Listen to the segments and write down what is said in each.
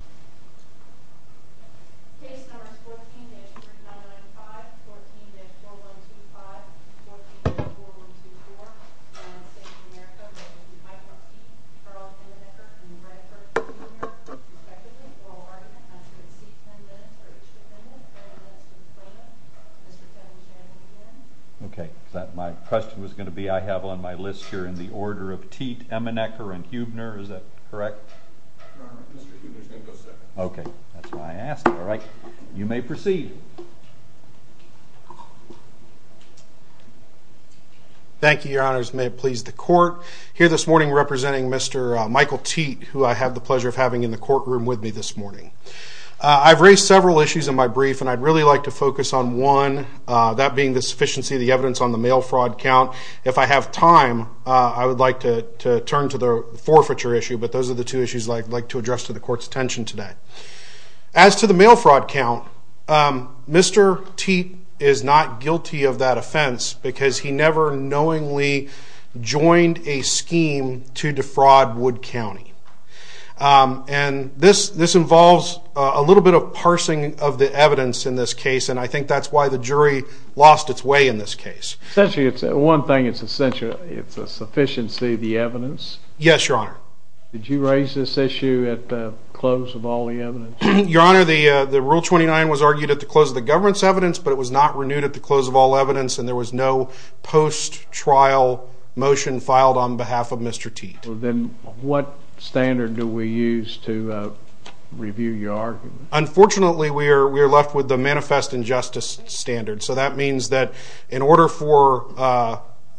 respectively. Oral argument has to exceed 10 minutes or each defendant, 30 minutes to explain it. Mr. Chairman, shall we begin? Okay. My question was going to be, I have on my list here in the order of Teadt, Emmenecker, and Heubner. Is that correct? Your Honor, Mr. Heubner is going to go second. Okay. That's why I asked. All right. You may proceed. Thank you, Your Honors. May it please the Court, here this morning representing Mr. Michael Teadt, who I have the pleasure of having in the courtroom with me this morning. I've raised several issues in my brief, and I'd really like to focus on one, that being the sufficiency of the evidence on the mail fraud count. If I have time, I would like to turn to the forfeiture issue, but those are the two issues I'd like to address to the Court's attention today. As to the mail fraud count, Mr. Teadt is not guilty of that offense because he never knowingly joined a scheme to defraud Wood County. This involves a little bit of parsing of the evidence in this case, and I think that's why the jury lost its way in this case. Essentially, it's one thing, it's a sufficiency of the evidence. Yes, Your Honor. Did you raise this issue at the close of all the evidence? Your Honor, the Rule 29 was argued at the close of the governance evidence, but it was not renewed at the close of all evidence, and there was no post-trial motion filed on behalf of Mr. Teadt. Then, what standard do we use to review your argument? Unfortunately, we are left with the manifest injustice standard, so that means that in order for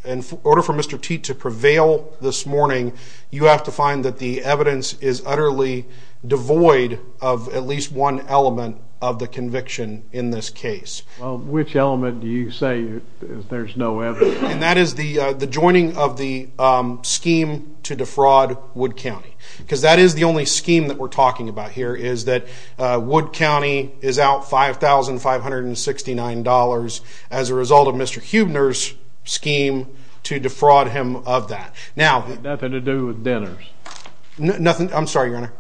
Mr. Teadt to prevail this morning, you have to find that the evidence is utterly devoid of at least one element of the conviction in this case. Which element do you say there's no evidence? That is the joining of the scheme to defraud Wood County, because that is the only scheme that we're talking about here, is that Wood County is out $5,569 as a result of Mr. Huebner's scheme to defraud him of that. Nothing to do with Dinners? Nothing. I'm sorry, Your Honor.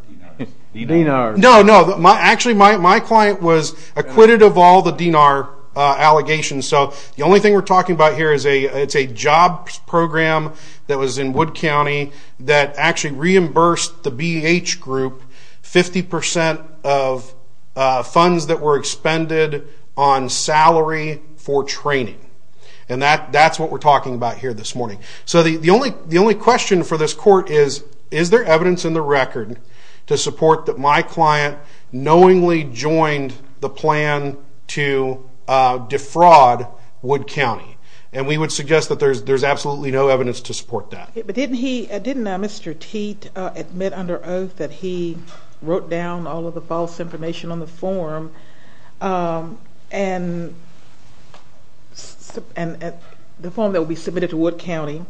Dinar. No, no. Actually, my client was acquitted of all the Dinar allegations, so the only thing we're talking about here is a job program that was in Wood County that actually reimbursed the BEH group 50% of funds that were expended on salary for training, and that's what we're talking about here this morning. The only question for this court is, is there evidence in the record to support that my client knowingly joined the plan to defraud Wood County? We would suggest that there's absolutely no evidence to support that. But didn't Mr. Teat admit under oath that he wrote down all of the false information on the form, and the form that will be submitted to Wood County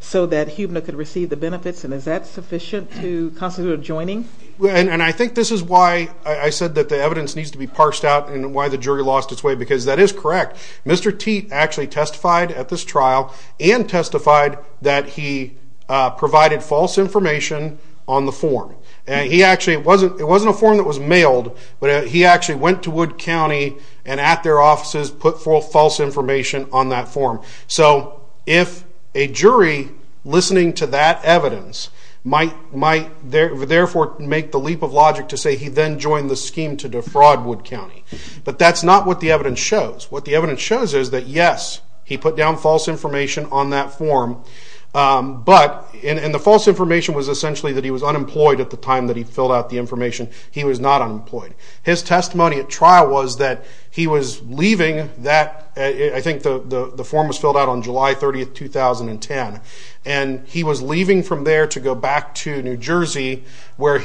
so that Huebner could receive the benefits, and is that sufficient to constitute a joining? I think this is why I said that the evidence needs to be parsed out and why the jury lost its way, because that is correct. Mr. Teat actually testified at this trial and testified that he provided false information on the form. It wasn't a form that was mailed, but he actually went to Wood County and at their offices put false information on that form. So if a jury listening to that evidence might therefore make the leap of logic to say he then joined the scheme to defraud Wood County, but that's not what the evidence shows. What the evidence shows is that yes, he put down false information on that form, and the false information was essentially that he was unemployed at the time that he filled out the information. He was not unemployed. His testimony at trial was that he was leaving that, I think the form was filled out on July 30th, 2010, and he was leaving from there to go back to New Jersey. The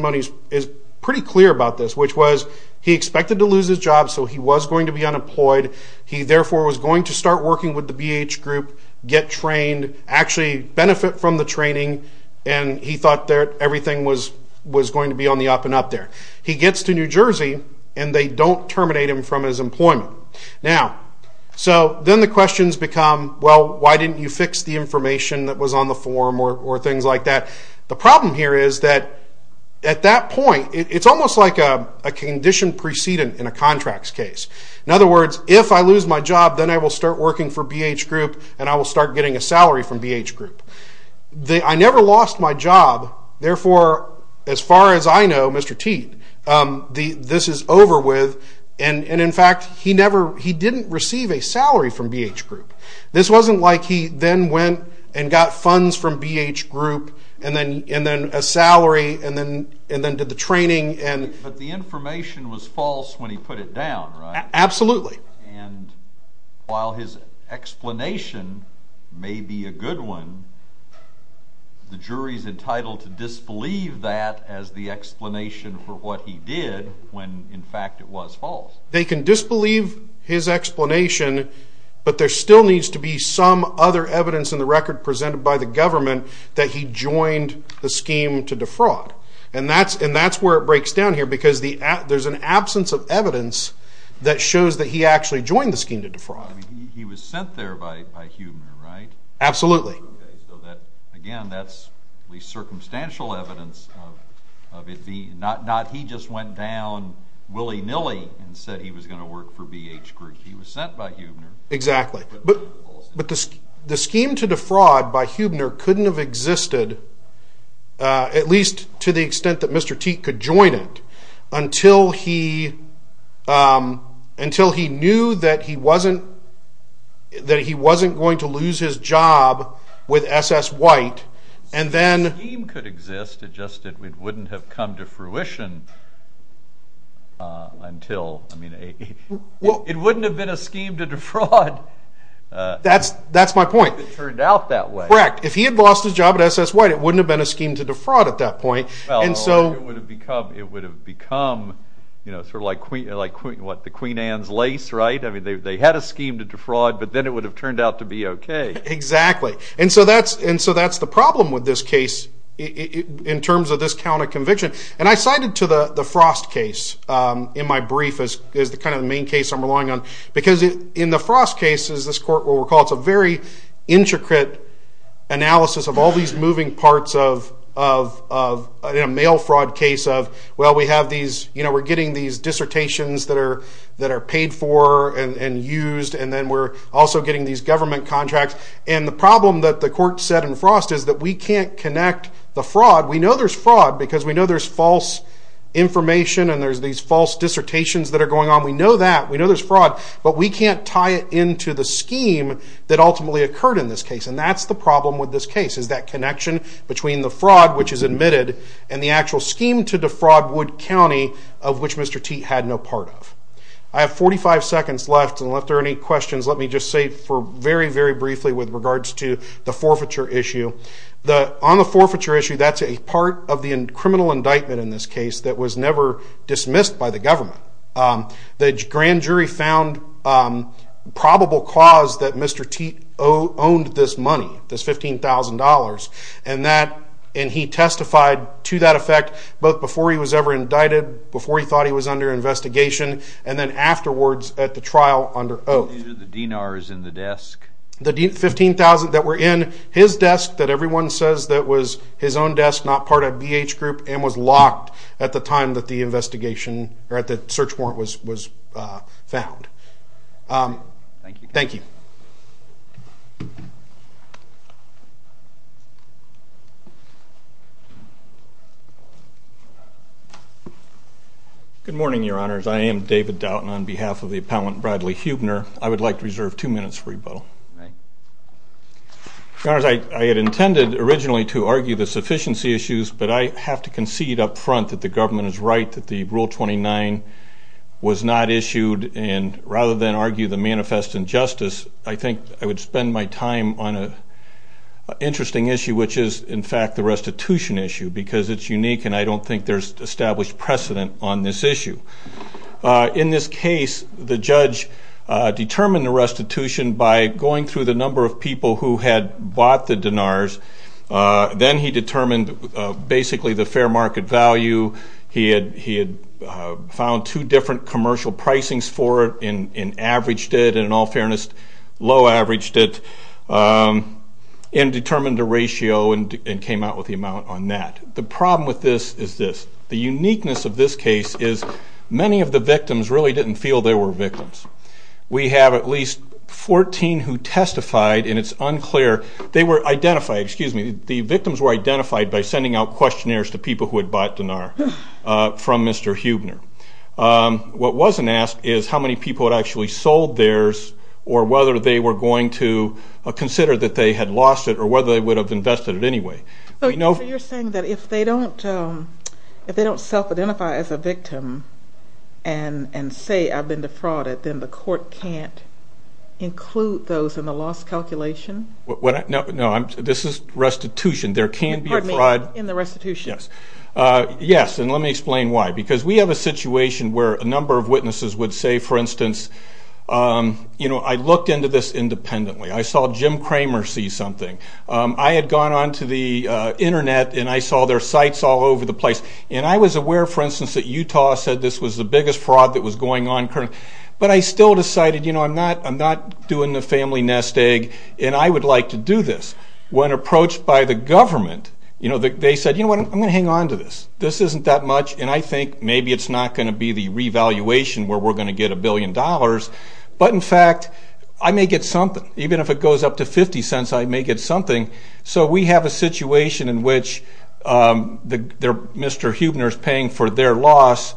question is pretty clear about this, which was he expected to lose his job, so he was going to be unemployed. He therefore was going to start working with the BH group, get trained, actually benefit from the training, and he thought that everything was going to be on the up and up there. He gets to New Jersey, and they don't terminate him from his employment. So then the questions become, well, why didn't you fix the information that was on the form or things like that? The problem here is that at that point, it's almost like a condition precedent in a contracts case. In other words, if I lose my job, then I will start working for BH group, and I will start getting a salary from BH group. I never lost my job, therefore as far as I know, Mr. Teed, this is over with, and in fact, he didn't receive a salary from BH group, and then a salary, and then did the training. But the information was false when he put it down, right? Absolutely. While his explanation may be a good one, the jury's entitled to disbelieve that as the explanation for what he did when in fact it was false. They can disbelieve his explanation, but there still needs to be some other evidence in the record presented by the government that he joined the scheme to defraud. And that's where it breaks down here, because there's an absence of evidence that shows that he actually joined the scheme to defraud. He was sent there by Huebner, right? Absolutely. Again, that's the circumstantial evidence of it being, not he just went down willy-nilly and said he was going to work for BH group. He was sent by Huebner. Exactly. But the scheme to defraud by Huebner couldn't have existed at least to the extent that Mr. Teed could join it until he knew that he wasn't that he wasn't going to lose his job with SS White, and then the scheme could exist, it just wouldn't have come to fruition until, I mean, it wouldn't have been a scheme to defraud. That's my point. It turned out that way. Correct. If he had lost his job at SS White, it wouldn't have been a scheme to defraud at that point. It would have become like the Queen Anne's Lace, right? They had a scheme to defraud, but then it would have turned out to be okay. Exactly. And so that's the problem with this case in terms of this count of conviction. And I cited to the Frost case in my brief as the main case I'm relying on, because in the Frost case, as this court will recall, it's a very intricate analysis of all these moving parts of a mail fraud case of, well, we're getting these dissertations that are paid for and used, and then we're also getting these government contracts. And the problem that the court said in Frost is that we can't connect the fraud. We know there's fraud because we know there's false information and there's these false dissertations that are going on. We know that. We know there's fraud. But we can't tie it into the scheme that ultimately occurred in this case. And that's the problem with this case, is that connection between the fraud which is admitted and the actual scheme to defraud Wood County of which Mr. Teat had no part of. I have 45 seconds left, and if there are any questions, let me just say for very, very briefly with regards to the forfeiture issue. On the forfeiture issue, that's a part of the criminal indictment in this case that was never dismissed by the government. The grand jury found probable cause that Mr. Teat owned this money, this $15,000, and he testified to that effect both before he was ever indicted, before he thought he was under investigation, and then afterwards at the trial under oath. The DNAR is in the desk. The $15,000 that were in his desk that everyone says that was his own desk, not part of BH Group, and was locked at the time that the investigation, or at the search warrant was found. Thank you. Good morning, your honors. I am David Doughton on behalf of the appellant Bradley Huebner. I would like to reserve two minutes for rebuttal. Your honors, I had intended originally to argue the sufficiency issues, but I have to concede up front that the government is right that the Rule 29 was not issued, and rather than argue the manifest injustice, I think I would spend my time on an interesting issue, which is in fact the restitution issue, because it's unique and I don't think there's established precedent on this issue. In this case, the judge determined the restitution by going through the number of people who had bought the DNARs. Then he determined basically the fair market value. He had found two different commercial pricings for it, and averaged it, in all fairness, low-averaged it, and determined the ratio and came out with the amount on that. The problem with this is this. The uniqueness of this case is many of the victims really didn't feel they were victims. We have at least fourteen who testified, and it's unclear. They were identified, excuse me, the victims from Mr. Huebner. What wasn't asked is how many people had actually sold theirs, or whether they were going to consider that they had lost it, or whether they would have invested it anyway. You're saying that if they don't self-identify as a victim and say, I've been defrauded, then the court can't include those in the loss calculation? No, this is restitution. There can be a fraud in the restitution. Yes, and let me explain why. Because we have a situation where a number of witnesses would say, for instance, I looked into this independently. I saw Jim Kramer see something. I had gone onto the internet, and I saw their sites all over the place, and I was aware, for instance, that Utah said this was the biggest fraud that was going on. But I still decided, you know, I'm not doing the family nest egg, and I would like to do this. When approached by the government, you know, they said, you know what, I'm going to hang on to this. This isn't that much, and I think maybe it's not going to be the revaluation where we're going to get a billion dollars. But in fact, I may get something. Even if it goes up to fifty cents, I may get something. So we have a situation in which Mr. Huebner is paying for their loss,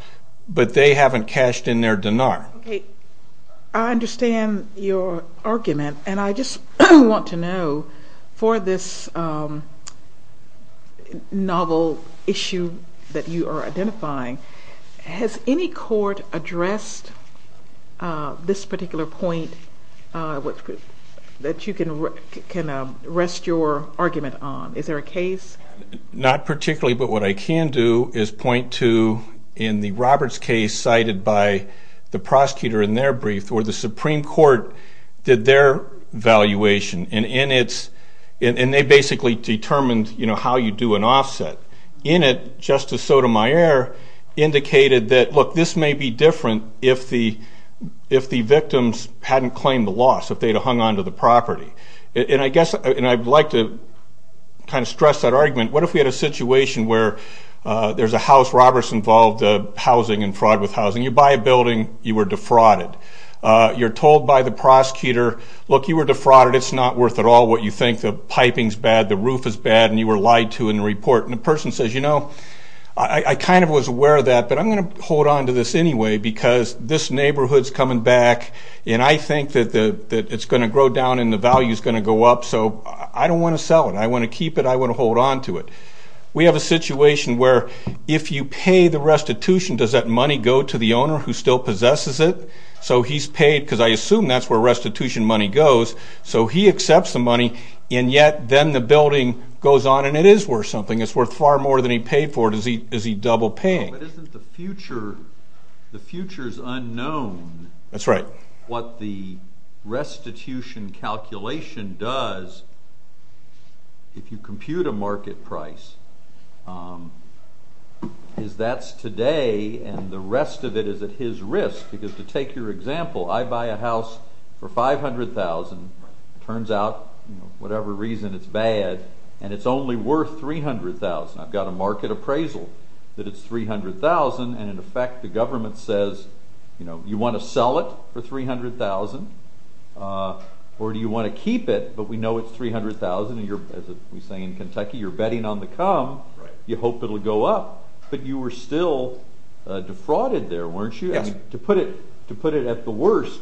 but they haven't cashed in their dinar. I understand your argument, and I just want to know for this novel issue that you are identifying, has any court addressed this particular point that you can rest your argument on? Is there a case? Not particularly, but what I can do is point to, in the Roberts case cited by the prosecutor in their brief, where the Supreme Court did their valuation, and in its, and they basically determined, you know, how you do an offset. In it, Justice Sotomayor indicated that, look, this may be different if the victims hadn't claimed the loss, if they'd have hung on to the property. And I guess, and I'd like to kind of stress that argument, what if we had a situation where there's a house, Roberts involved housing and fraud with housing. You buy a building, you were defrauded. You're told by the prosecutor, look, you were defrauded, it's not worth at all what you think. The piping's bad, the roof is bad, and you were lied to in the report. And the person says, you know, I kind of was aware of that, but I'm going to hold on to this anyway, because this neighborhood's coming back, and I think that it's going to grow down and the value's going to go up, so I don't want to sell it. I want to keep it. I want to hold on to it. We have a situation where if you pay the restitution, does that money go to the owner who still possesses it? So he's paid, because I assume that's where restitution money goes, so he accepts the money, and yet then the building goes on, and it is worth something. It's worth far more than he paid for it. Is he double-paying? But isn't the future, the future's unknown, what the restitution calculation does if you compute a market price? That's today, and the rest of it is at his risk, because to take your example, I buy a house for $500,000, turns out, whatever reason, it's bad, and it's only worth $300,000. I've got a market appraisal that it's $300,000, and in effect the government says, you know, you want to sell it for $300,000, or do you want to keep it, but we know it's $300,000, and you're, say, in Kentucky, you're betting on the come, you hope it'll go up, but you were still defrauded there, weren't you? To put it at the worst,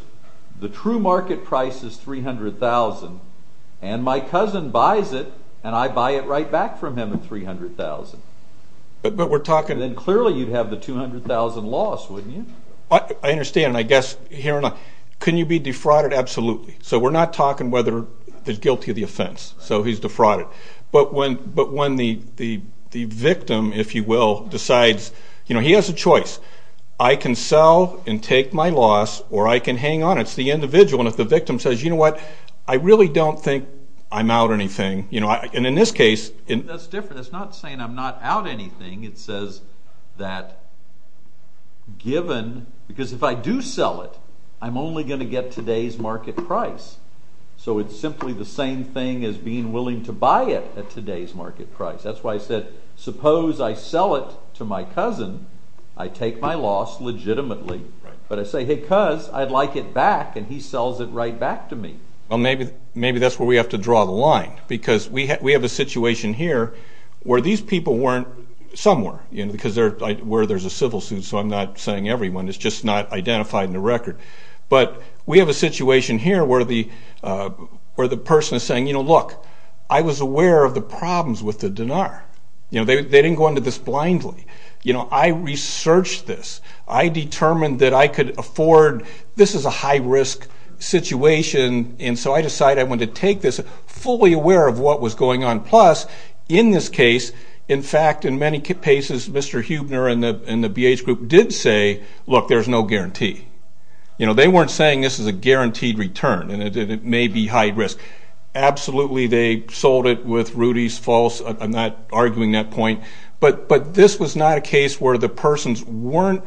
the true market price is $300,000, and my cousin buys it, and I buy it right back from him at $300,000. Then clearly you'd have the $200,000 loss, wouldn't you? I understand, and I guess, can you be defrauded? Absolutely. So we're not talking whether he's guilty of the offense, so he's defrauded. But when the victim, if you will, decides, you know, he has a choice. I can sell and take my loss, or I can hang on. It's the individual, and if the victim says, you know what, I really don't think I'm out anything, and in this case... That's different. It's not saying I'm not out anything. It says that given, because if I do sell it, I'm only going to get today's market price. So it's simply the same thing as being willing to buy it at today's market price. That's why I said, suppose I sell it to my cousin, I take my loss legitimately. But I say, hey cuz, I'd like it back, and he sells it right back to me. Well, maybe that's where we have to draw the line, because we have a situation here where these people weren't somewhere, because there's a civil suit, so I'm not saying everyone. It's just not identified in the record. But we have a situation here where the person is saying, you know, look, I was aware of the problems with the dinar. You know, they didn't go into this blindly. You know, I researched this. I determined that I could afford... This is a high-risk situation, and so I decided I wanted to take this, fully aware of what was going on. Plus, in this case, in fact, in many cases, Mr. Huebner and the BH group did say, look, there's no guarantee. You know, they weren't saying this is a guaranteed return, and it may be high-risk. Absolutely, they sold it with Rudy's False. I'm not arguing that point. But this was not a case where the persons weren't...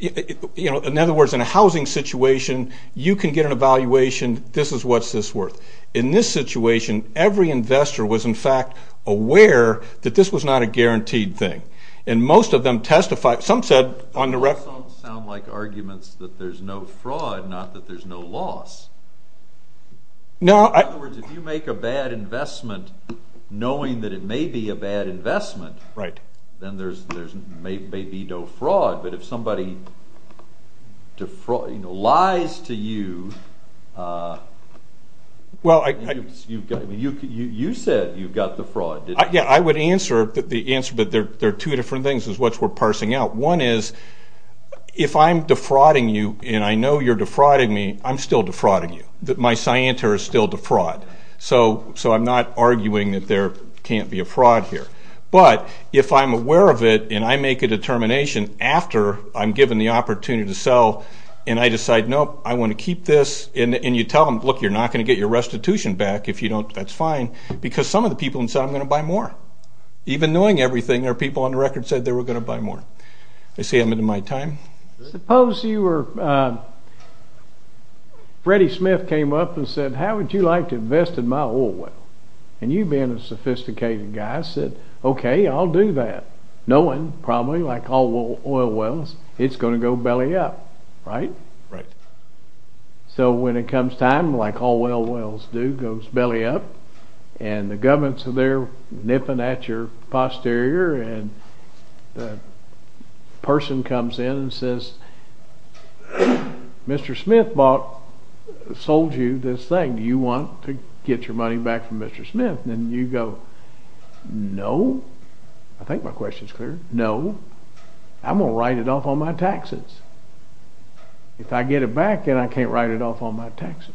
You know, in other words, in a housing situation, you can get an evaluation, this is what it's worth. In this situation, every investor was, in fact, aware that this was not a guaranteed thing. And most of them testified. Some said, on the record... Those don't sound like arguments that there's no fraud, not that there's no loss. In other words, if you make a bad investment knowing that it may be a bad investment, then there may be no fraud. But if somebody lies to you, you said you've got the fraud, didn't you? Yeah, I would answer the answer, but there are two different things is what we're parsing out. One is, if I'm defrauding you, and I know you're defrauding me, I'm still defrauding you. My scienter is still defraud. So I'm not arguing that there can't be a fraud here. But if I'm aware of it, and I make a determination after I'm given the opportunity to sell, and I decide, nope, I want to keep this, and you tell them, look, you're not going to get your restitution back if you don't, that's fine, because some of the people in the room said, I'm going to buy more. Even knowing everything, there are people on the record who said they were going to buy more. I see I'm into my time. Suppose you were, Freddie Smith came up and said, how would you like to invest in my oil well? And you, being a sophisticated guy, said, okay, I'll do that. Knowing, probably, like all oil wells, it's going to go belly up, right? So when it comes time, like all oil wells do, it goes belly up, and the governments are there nipping at your posterior, and the person comes in and says, Mr. Smith bought, sold you this thing, do you want to get your money back from Mr. Smith? And you go, no, I think my question's clear, no, I'm going to write it off on my taxes. If I get it back, then I can't write it off on my taxes.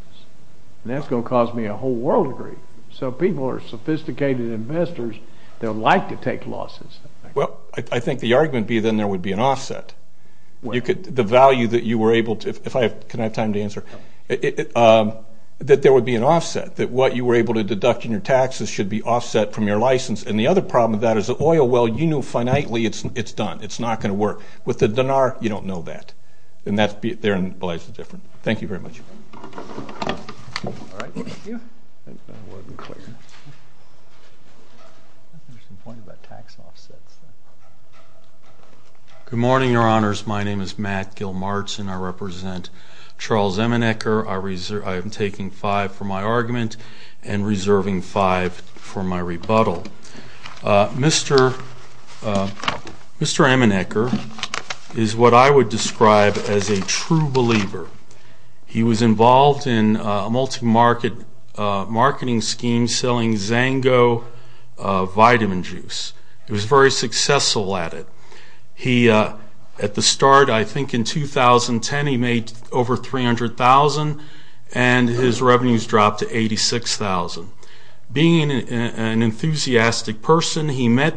And that's going to cause me a whole world of grief. So people who are sophisticated investors, they'll like to take losses. Well, I think the argument would be that there would be an offset. The value that you were able to, if I have time to answer, that there would be an offset, that what you were able to deduct in your taxes should be offset from your license. And the other problem with that is the oil well, you know finitely it's done, it's not going to work. With the dinar, you don't know that. And that's, therein lies the difference. Thank you very much. Good morning, your honors. My name is Matt Gilmartin. I represent Charles Emenecker. I am taking five for my argument and reserving five for my rebuttal. Mr. Emenecker is what I would describe as a true believer. He was involved in a multi-market marketing scheme selling Zango vitamin juice. He was very successful at it. He, at the start, I think in 2010, he made over $300,000 and his revenues dropped to $86,000. Being an enthusiastic person, he met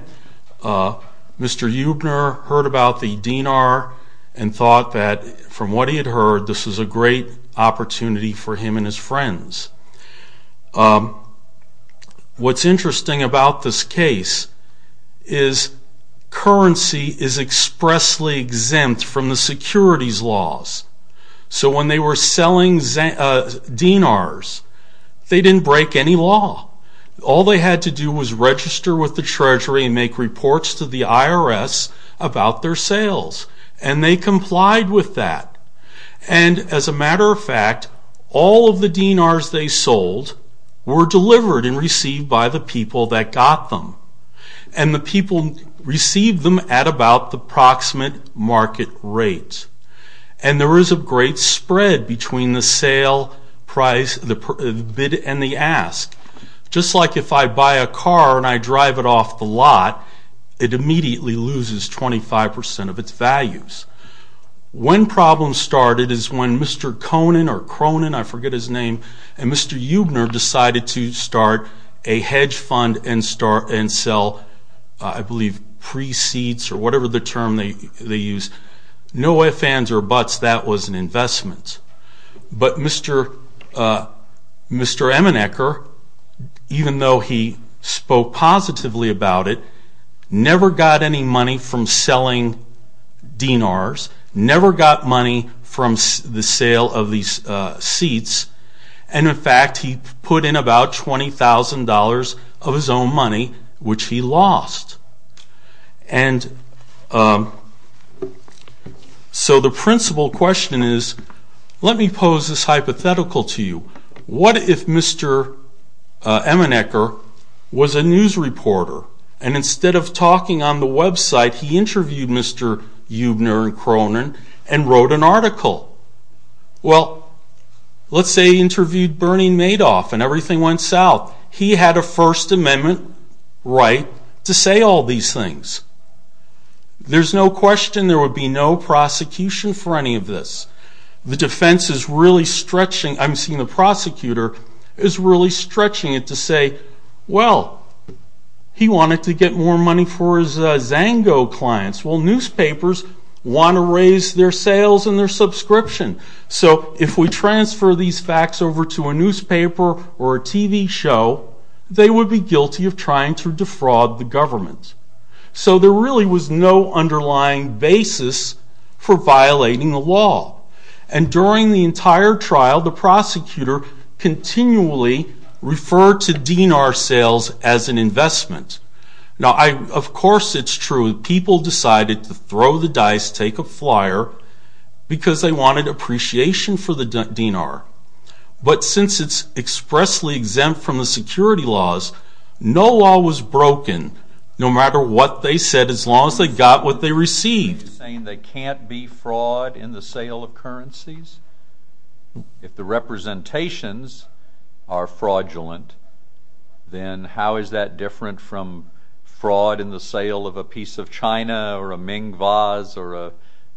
Mr. Eubner, heard about the dinar, and thought that, from what he had heard, this was a great opportunity for him and his friends. What's interesting about this case is currency is expressly exempt from the securities laws. So when they were selling dinars, they didn't break any law. All they had to do was register with the Treasury and make reports to the IRS about their sales. And they complied with that. And as a matter of fact, all of the dinars they sold were delivered and received by the people that got them. And the people received them at about the proximate market rate. And there is a great spread between the bid and the ask. Just like if I buy a car and I drive it off the lot, it immediately loses 25% of its values. When problems started is when Mr. Conin or Cronin, I forget his name, and Mr. Eubner decided to start a hedge fund and sell, I believe, pre-seeds or whatever the term they use. No ifs, ands, or buts, that was an investment. But Mr. Emenecker, even though he spoke positively about it, never got any money from selling dinars, never got money from the sale of these seeds. And in fact, he put in about $20,000 of his own money, which he lost. And so the principal question is, let me pose this hypothetical to you. What if Mr. Emenecker was a news reporter, and instead of talking on the website, he interviewed Mr. Eubner and Cronin and wrote an article? Well, let's say he interviewed Bernie Madoff and everything went south. He had a First Amendment right to say all these things. There's no question there would be no prosecution for any of this. The defense is really stretching, I'm seeing the prosecutor, is really stretching it to say, well, he wanted to get more money for his Zango clients. Well, newspapers want to raise their sales and their subscription. So if we transfer these facts over to a newspaper or a TV show, they would be guilty of trying to defraud the government. So there really was no underlying basis for violating the law. And during the entire trial, the prosecutor continually referred to dinar sales as an investment. Now, of course it's true, people decided to throw the dice, take a flyer, because they wanted appreciation for the dinar. But since it's expressly exempt from the security laws, no law was broken, no matter what they said, as long as they got what they received. You're saying they can't be fraud in the sale of currencies? If the representations are fraudulent, then how is that different from fraud in the sale of a piece of China or a Ming vase or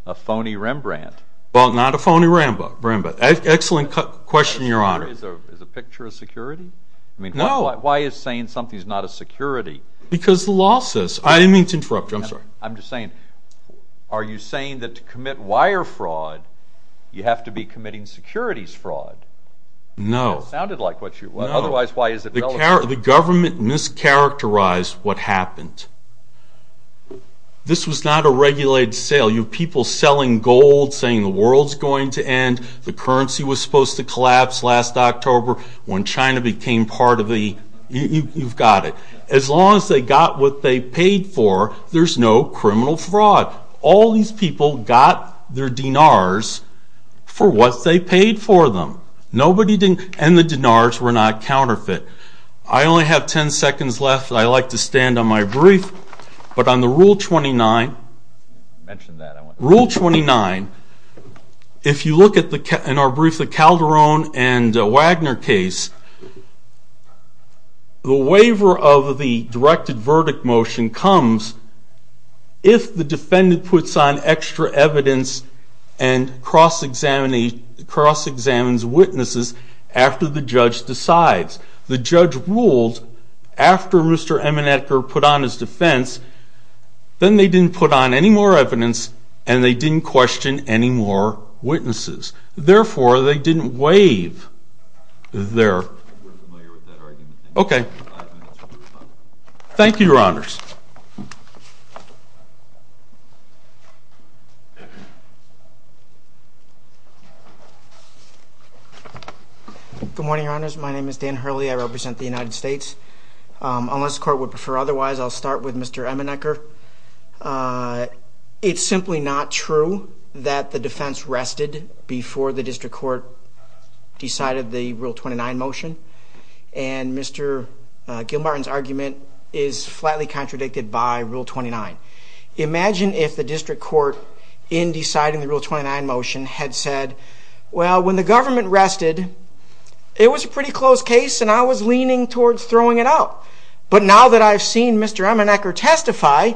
a phony Rembrandt? Well, not a phony Rembrandt. Excellent question, Your Honor. Is a picture a security? No. I mean, why is saying something's not a security? Because the law says. I didn't mean to interrupt you. I'm sorry. I'm just saying, are you saying that to commit wire fraud, you have to be committing securities fraud? No. That sounded like what you, otherwise, why is it relative? The government mischaracterized what happened. This was not a regulated sale. You have people selling gold, saying the world's going to end, the currency was supposed to collapse last October when China became part of the, you've got it. As long as they got what they paid for, there's no criminal fraud. All these people got their dinars for what they paid for them. Nobody didn't, and the dinars were not counterfeit. I only have 10 seconds left. I like to stand on my brief, but on the Rule 29, Rule 29, if you look at the, in our brief, the Calderon and Wagner case, the waiver of the directed verdict motion comes if the defendant puts on extra evidence and cross-examines witnesses after the judge decides. The judge ruled after Mr. Emanetker put on his defense, then they didn't put on any more evidence, and they didn't question any more witnesses. Therefore, they didn't waive their, okay. Thank you, Your Honors. Good morning, Your Honors. My name is Dan Hurley. I represent the United States. Unless the Court would prefer otherwise, I'll start with Mr. Emanetker. It's simply not true that the defense rested before the District Court decided the Rule 29 motion, and Mr. Gilmartin's argument is flatly contradicted by Rule 29. Imagine if the District Court, in deciding the Rule 29 motion, had said, well, when the government rested, it was a pretty close case, and I was leaning towards throwing it out. But now that I've seen Mr. Emanetker testify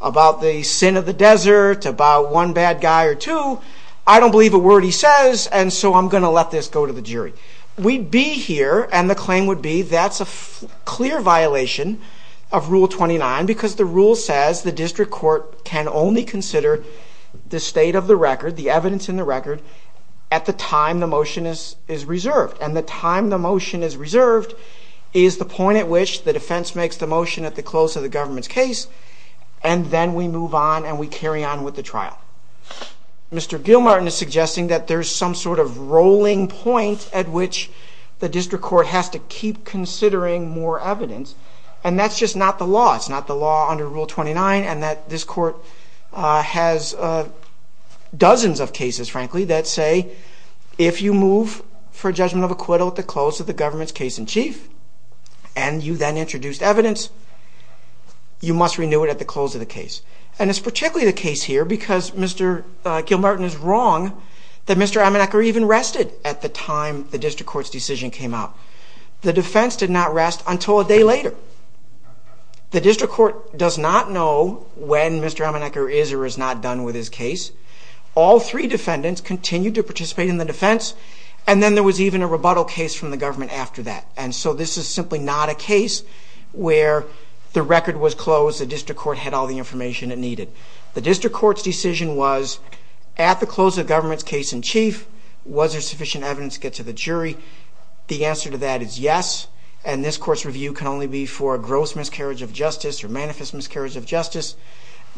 about the sin of the desert, about one bad guy or two, I don't believe a word he says, and so I'm going to let this go to the jury. We'd be here, and the claim would be that's a clear violation of Rule 29 because the rule says the District Court can only consider the state of the record, the evidence in the record, at the time the motion is reserved. And the time the motion is reserved is the point at which the defense makes the motion at the close of the government's case, and then we move on and we carry on with the trial. Mr. Gilmartin is suggesting that there's some sort of rolling point at which the District Court has to keep considering more evidence, and that's just not the law. It's not the law under Rule 29, and that this court has dozens of cases, frankly, that say if you move for judgment of acquittal at the government's case-in-chief, and you then introduce evidence, you must renew it at the close of the case. And it's particularly the case here because Mr. Gilmartin is wrong that Mr. Amenecker even rested at the time the District Court's decision came out. The defense did not rest until a day later. The District Court does not know when Mr. Amenecker is or is not done with his case. All three defendants continued to participate in the defense, and then there was even a rebuttal case from the government after that. And so this is simply not a case where the record was closed, the District Court had all the information it needed. The District Court's decision was at the close of the government's case-in-chief, was there sufficient evidence to get to the jury? The answer to that is yes, and this court's review can only be for a gross miscarriage of justice or manifest miscarriage of justice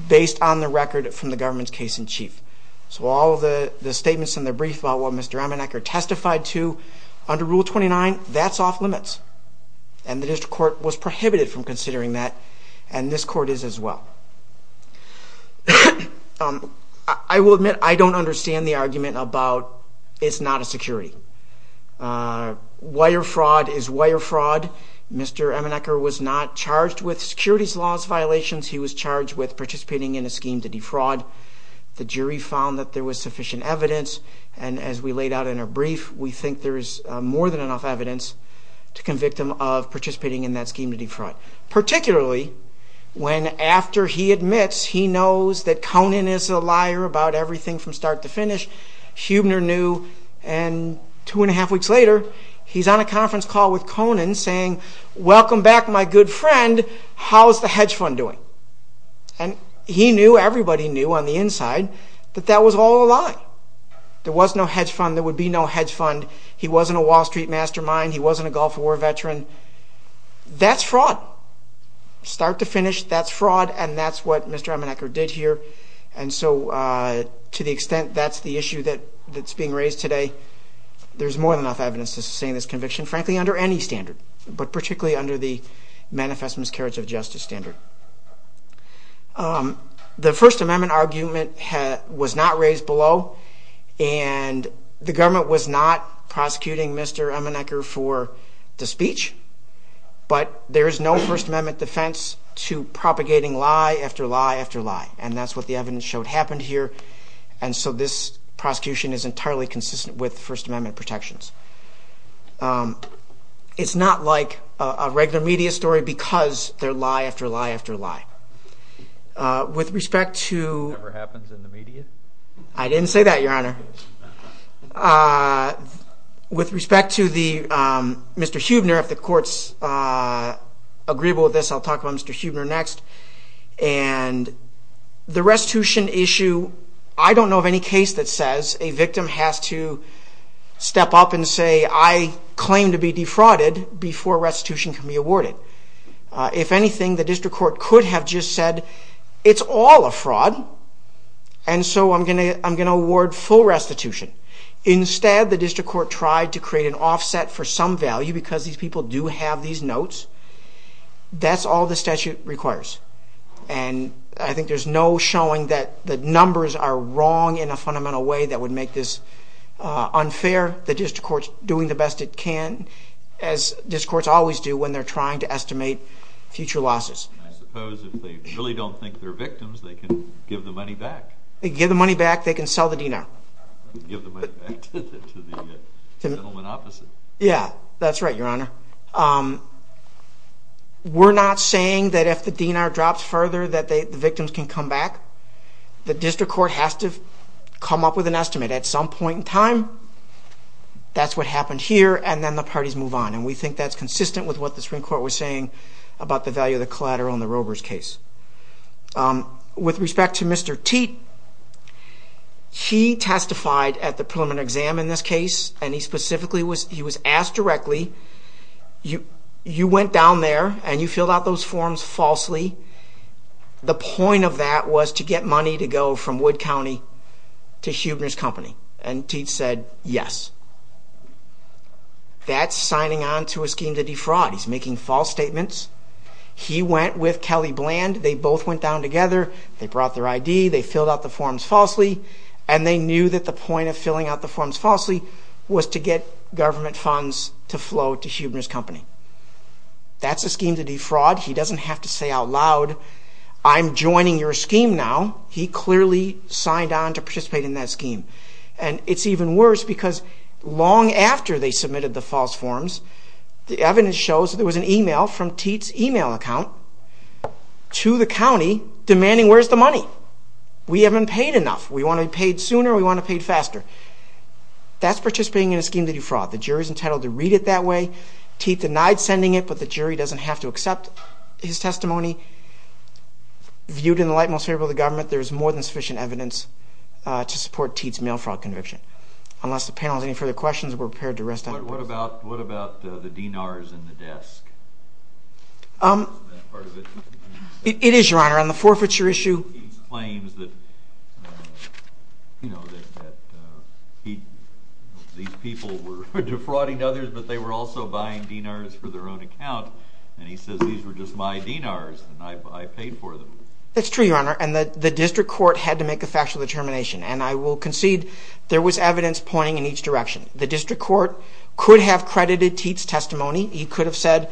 based on the record from the government's case-in-chief. So all of the statements in the brief about what Mr. Amenecker testified to, under Rule 29, that's off-limits. And the District Court was prohibited from considering that, and this court is as well. I will admit I don't understand the argument about it's not a security. Wire fraud is wire fraud. Mr. Amenecker was not charged with securities laws violations, he was charged with participating in a scheme to defraud. The jury found that there was sufficient evidence, and as we laid out in our brief, we think there is more than enough evidence to convict him of participating in that scheme to defraud. Particularly, when after he admits he knows that Conan is a liar about everything from start to finish, Huebner knew, and two and a half weeks later, he's on a conference call with Conan saying, welcome back my good friend, how's the hedge fund doing? And he knew, everybody knew on the inside that that was all a lie. There was no hedge fund, there would be no hedge fund, he wasn't a Wall Street mastermind, he wasn't a Gulf War veteran. That's fraud. Start to finish, that's fraud, and that's what Mr. Amenecker did here. And so, to the extent that's the issue that's being raised today, there's more than enough evidence to sustain this conviction, frankly under any standard, but particularly under the Manifest Miscarriage of Justice standard. The First Amendment argument was not raised below, and the government was not prosecuting Mr. Amenecker for the speech, but there is no First Amendment defense to propagating lie after lie after lie, and that's what the evidence showed happened here, and so this prosecution is entirely consistent with First Amendment protections. It's not like a regular media story because they're lie after lie after lie. With respect to... It never happens in the media? I didn't say that, Your Honor. With respect to Mr. Huebner, if the court's agreeable with this, I'll talk about Mr. Huebner next, and the restitution issue, I don't know of any case that says a victim has to step up and say, I claim to be defrauded before restitution can be awarded. If anything, the district court could have just said, it's all a fraud, and so I'm going to award full restitution. Instead, the district court tried to create an offset for some value because these people do have these notes. That's all the statute requires, and I think there's no showing that the numbers are wrong in a fundamental way that would make this unfair. The district court's doing the best it can, as district courts always do when they're trying to estimate future losses. I suppose if they really don't think they're victims, they can give the money back. They can give the money back, they can sell the DNR. Give the money back to the gentleman opposite. Yeah, that's right, Your Honor. We're not saying that if the DNR drops further that the victims can come back. The district court has to come up with an estimate. At some point in time, that's what happened here, and then the parties move on, and we think that's consistent with what the Supreme Court was saying about the value of the collateral in the Robers case. With respect to Mr. Teat, he testified at the preliminary exam in this case, and he specifically was asked directly, you went down there and you filled out those forms falsely. The point of that was to get money to go from Wood County to Huebner's company, and Teat said yes. That's signing on to a scheme to defraud. He's making false statements. He went with Kelly Bland. They both went down together. They brought their ID. They filled out the forms falsely, and they knew that the point of filling out the forms falsely was to get government funds to flow to Huebner's company. That's a scheme to defraud. He doesn't have to say out loud, I'm joining your scheme now. He clearly signed on to participate in that scheme, and it's even worse because long after they submitted the false forms, the evidence shows that there was an email from Teat's email account to the county demanding, where's the money? We haven't paid enough. We want it paid sooner, we want it paid faster. That's participating in a scheme to defraud. The jury's entitled to read it that way. Teat denied sending it, but the jury doesn't have to accept his testimony. Viewed in the light and most favorable of the government, there is more than sufficient evidence to support Teat's mail fraud conviction. Unless the panel has any further questions, we're prepared to rest up. What about the DINARs in the desk? It is, Your Honor, on the forfeiture issue. Claims that these people were defrauding others, but they were also buying DINARs for their own account, and he says, these were just my DINARs, and I paid for them. That's true, Your Honor, and the district court had to make a factual determination, and I will concede there was evidence pointing in each direction. The district court could have credited Teat's testimony. He could have said,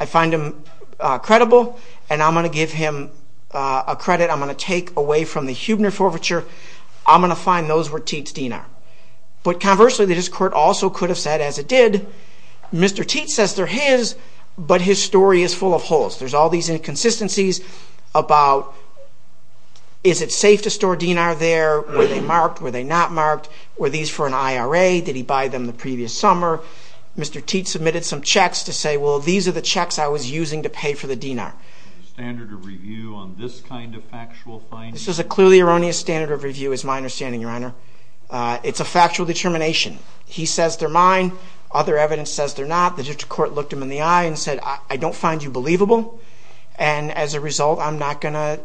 I find him credible, and I'm going to give him a credit. I'm going to take away from the Huebner forfeiture. I'm going to find those were Teat's DINAR. But conversely, the district court also could have said, as it did, Mr. Teat says they're his, but his story is full of holes. There's all these inconsistencies about is it safe to store DINAR there? Were they marked? Were they not marked? Were these for an IRA? Did he buy them the previous summer? Mr. Teat submitted some checks to say, well, these are the checks I was using to pay for the DINAR. The standard of review on this kind of factual finding? This is a clearly erroneous standard of review, is my understanding, Your Honor. It's a factual determination. He says they're mine. Other evidence says they're not. The district court looked him in the eye and said, I don't find you believable, and as a result, I'm not going to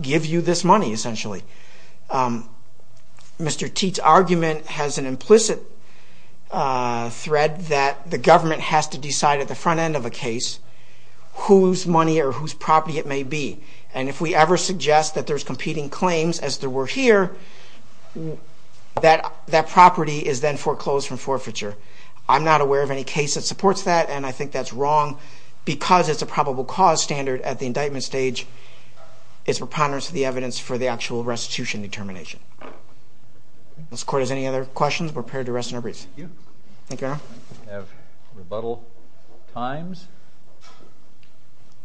give you this money, essentially. Mr. Teat's argument has an implicit thread that the government has to decide at the front end of a case whose money or whose property it may be, and if we ever suggest that there's competing claims as there were here, that that property is then foreclosed from forfeiture. I'm not aware of any case that supports that, and I think that's wrong because it's a probable cause standard at the indictment stage. It's preponderance of the evidence for the actual arrest. It's a restitution determination. If this court has any other questions, we're prepared to rest in our briefs. Thank you. Thank you, Your Honor. We have rebuttal times.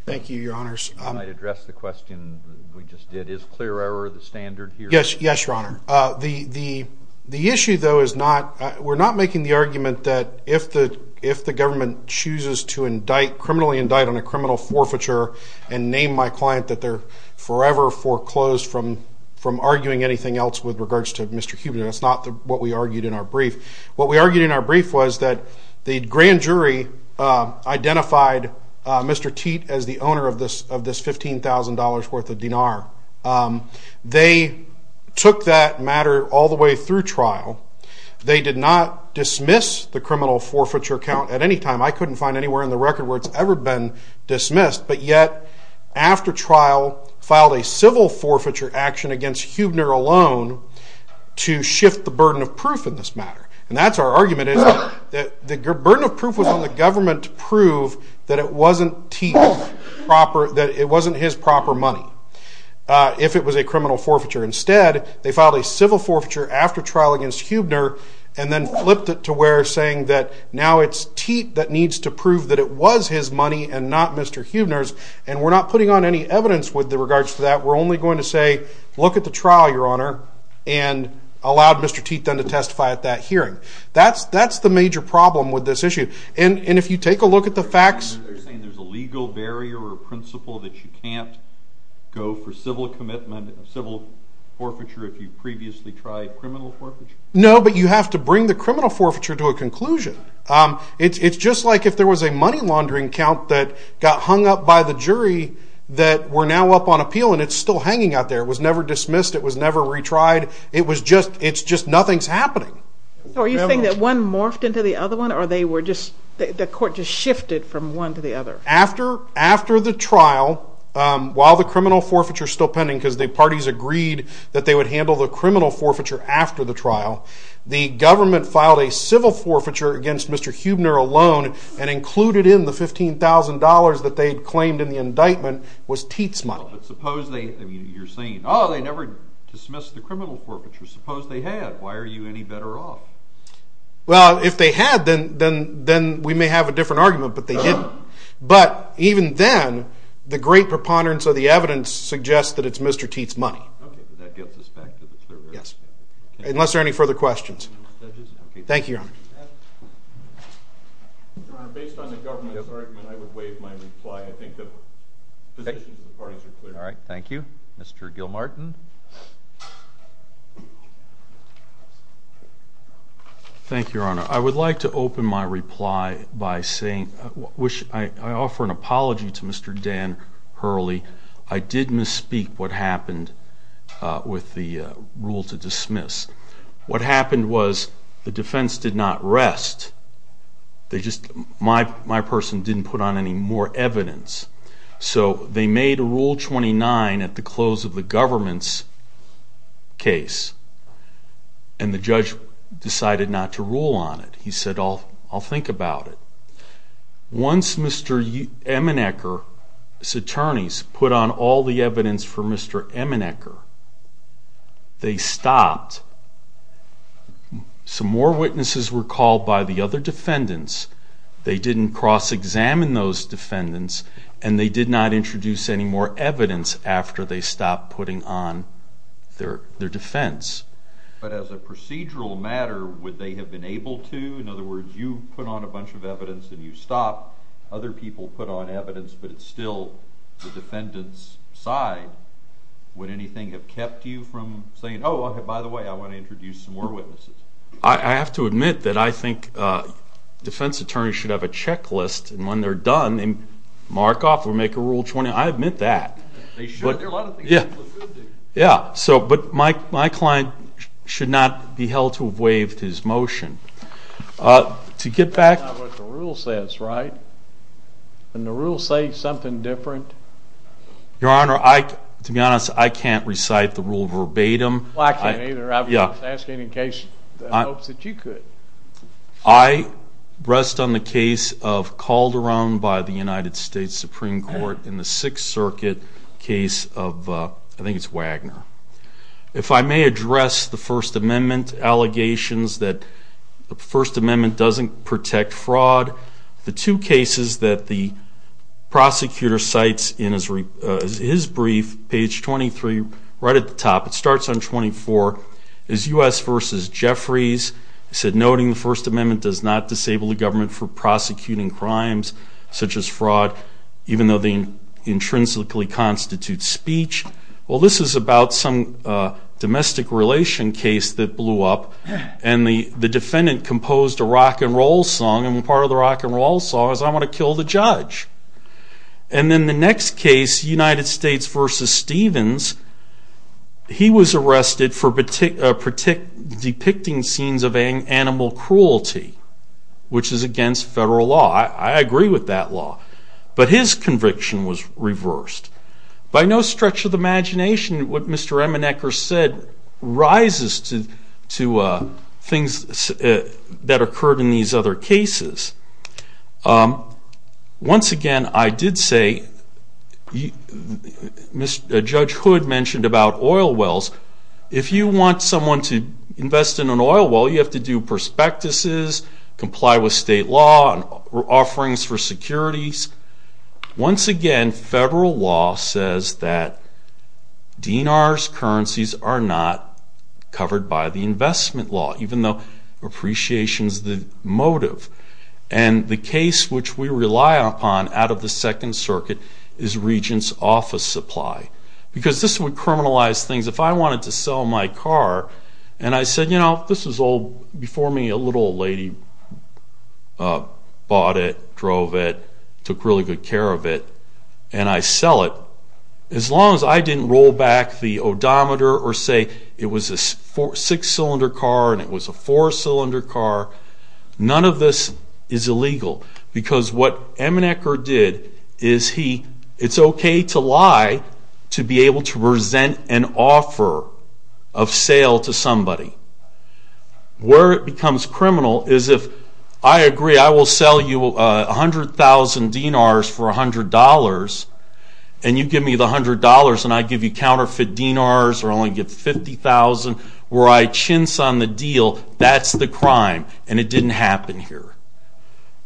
Thank you, Your Honors. I might address the question we just did. Is clear error the standard here? Yes, Your Honor. The issue, though, is not, we're not making the argument that if the government chooses to indict, criminally indict on a criminal forfeiture and name my client that they're forever foreclosed from arguing anything else with regards to Mr. Huber. That's not what we argued in our brief. What we argued in our brief was that the grand jury identified Mr. Teat as the owner of this $15,000 worth of dinar. They took that matter all the way through trial. They did not dismiss the criminal forfeiture count at any time. I couldn't find anywhere in the record where it's ever been dismissed, but yet, after trial, filed a civil forfeiture action against Huber alone to shift the burden of proof in this matter. And that's our argument is that the burden of proof was on the government to prove that it wasn't Teat proper, that it wasn't his proper money, if it was a criminal forfeiture. Instead, they filed a civil forfeiture after trial against Huber, and then flipped it to where saying that now it's Teat that needs to prove that it was his money and not Mr. Huber's, and we're not putting on any evidence with regards to that. We're only going to say, look at the trial, your honor, and allowed Mr. Teat then to testify at that hearing. That's the major problem with this issue. And if you take a look at the facts. They're saying there's a legal barrier or principle that you can't go for civil commitment, civil forfeiture if you've previously tried criminal forfeiture? No, but you have to bring the criminal forfeiture to a conclusion. It's just like if there was a money laundering count that got hung up by the jury that we're now up on appeal and it's still hanging out there. It was never dismissed. It was never retried. It was just, it's just, nothing's happening. Are you saying that one morphed into the other one or they were just, the court just shifted from one to the other? After the trial, while the criminal forfeiture is still pending because the parties agreed that they would handle the criminal forfeiture after the trial, the government filed a civil forfeiture against Mr. Huber alone and included in the $15,000 that they had claimed in the indictment was Teat's money. But suppose they, I mean, you're saying, oh, they never dismissed the criminal forfeiture. Suppose they had. Why are you any better off? Well, if they had, then we may have a different argument, but they didn't. But even then, the great preponderance of the evidence suggests that it's Mr. Teat's money. Okay, but that gets us back to the third argument. Yes. Unless there are any further questions. Thank you, Your Honor. Based on the government's argument, I would waive my reply. I think the positions of the parties are clear. All right, thank you. Mr. Gilmartin. Thank you, Your Honor. I would like to open my reply by saying, which I offer an apology to Mr. Dan Hurley. I did misspeak what happened with the rule to dismiss. What happened was the defense did not rest. They just, my person didn't put on any more evidence. So they made a Rule 29 at the close of the government's case. And the judge decided not to rule on it. He said, I'll think about it. Once Mr. Emenecker's attorneys put on all the evidence for Mr. Emenecker, they stopped. Some more witnesses were called by the other defendants. They didn't cross-examine those defendants, and they did not introduce any more evidence after they stopped putting on their defense. But as a procedural matter, would they have been able to? In other words, you put on a bunch of evidence and you stopped. Other people put on evidence, but it's still the defendant's side. oh, by the way, I want to go back to the case? I want to introduce some more witnesses. I have to admit that I think defense attorneys should have a checklist, and when they're done, they mark off or make a Rule 29. I admit that. They should. There are a lot of things people should do. Yeah, but my client should not be held to have waived his motion. To get back. It's not what the rule says, right? Didn't the rule say something different? Your Honor, to be honest, I can't recite the rule verbatim. Well, I can't either. I was just asking in case that hopes that you could. I rest on the case of Calderon by the United States Supreme Court in the Sixth Circuit case of, I think it's Wagner. If I may address the First Amendment allegations that the First Amendment doesn't protect fraud, the two cases that the prosecutor cites in his brief, page 23, right at the top, it starts on 24, is U.S. v. Jeffries. He said, noting the First Amendment does not disable the government for prosecuting crimes such as fraud, even though they intrinsically constitute speech. Well, this is about some domestic relation case that blew up, and the defendant composed a rock and roll song, and part of the rock and roll song is I'm gonna kill the judge. And then the next case, United States v. Stevens, he was arrested for depicting scenes of animal cruelty, which is against federal law. I agree with that law, but his conviction was reversed. By no stretch of the imagination, what Mr. Eminecker said rises to things that occurred in these other cases. Once again, I did say, Judge Hood mentioned about oil wells. If you want someone to invest in an oil well, you have to do prospectuses, comply with state law, offerings for securities. Once again, federal law says that DNR's currencies are not covered by the investment law, even though appreciation's the motive. And the case which we rely upon out of the Second Circuit is Regents Office Supply, because this would criminalize things. If I wanted to sell my car, and I said, you know, this was old, before me a little old lady bought it, drove it, took really good care of it, and I sell it, as long as I didn't roll back the odometer or say it was a six-cylinder car and it was a four-cylinder car, none of this is illegal, because what Eminecker did is he, it's okay to lie to be able to present an offer of sale to somebody. Where it becomes criminal is if I agree I will sell you 100,000 DNR's for $100, and you give me the $100, and I give you counterfeit DNR's, or I only give 50,000, where I chintz on the deal, that's the crime, and it didn't happen here.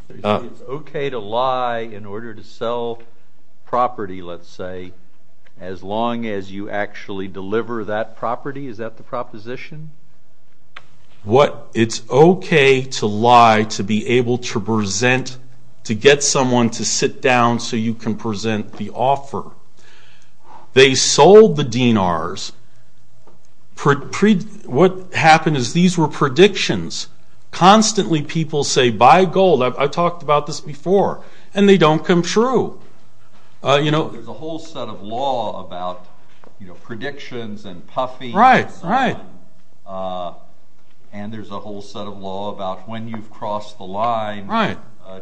It's okay to lie in order to sell property, let's say, as long as you actually deliver that property, is that the proposition? What, it's okay to lie to be able to present, to get someone to sit down so you can present the offer. They sold the DNR's, what happened is these were predictions, constantly people say, buy gold, I've talked about this before, and they don't come true. There's a whole set of law about predictions and puffing, and there's a whole set of law about when you've crossed the line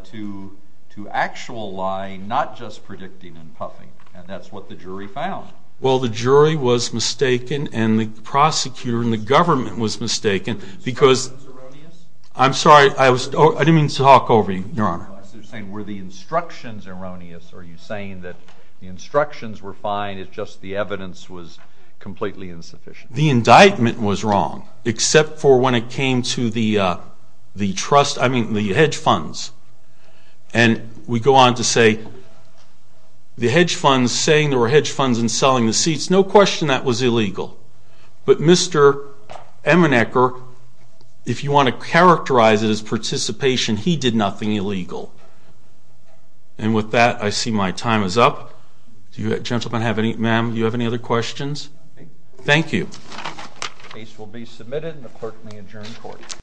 to actual lying, not just predicting and puffing, and that's what the jury found. Well the jury was mistaken, and the prosecutor, and the government was mistaken, because, I'm sorry, I didn't mean to talk over you, your honor. I was just saying, were the instructions erroneous, or are you saying that the instructions were fine, it's just the evidence was completely insufficient? The indictment was wrong, except for when it came to the trust, I mean the hedge funds, and we go on to say, the hedge funds saying there were hedge funds in selling the seats, no question that was illegal, but Mr. Emenecker, if you want to characterize it as participation, he did nothing illegal, and with that, I see my time is up. Do you gentlemen have any, ma'am, do you have any other questions? Thank you. Case will be submitted, and the clerk may adjourn court.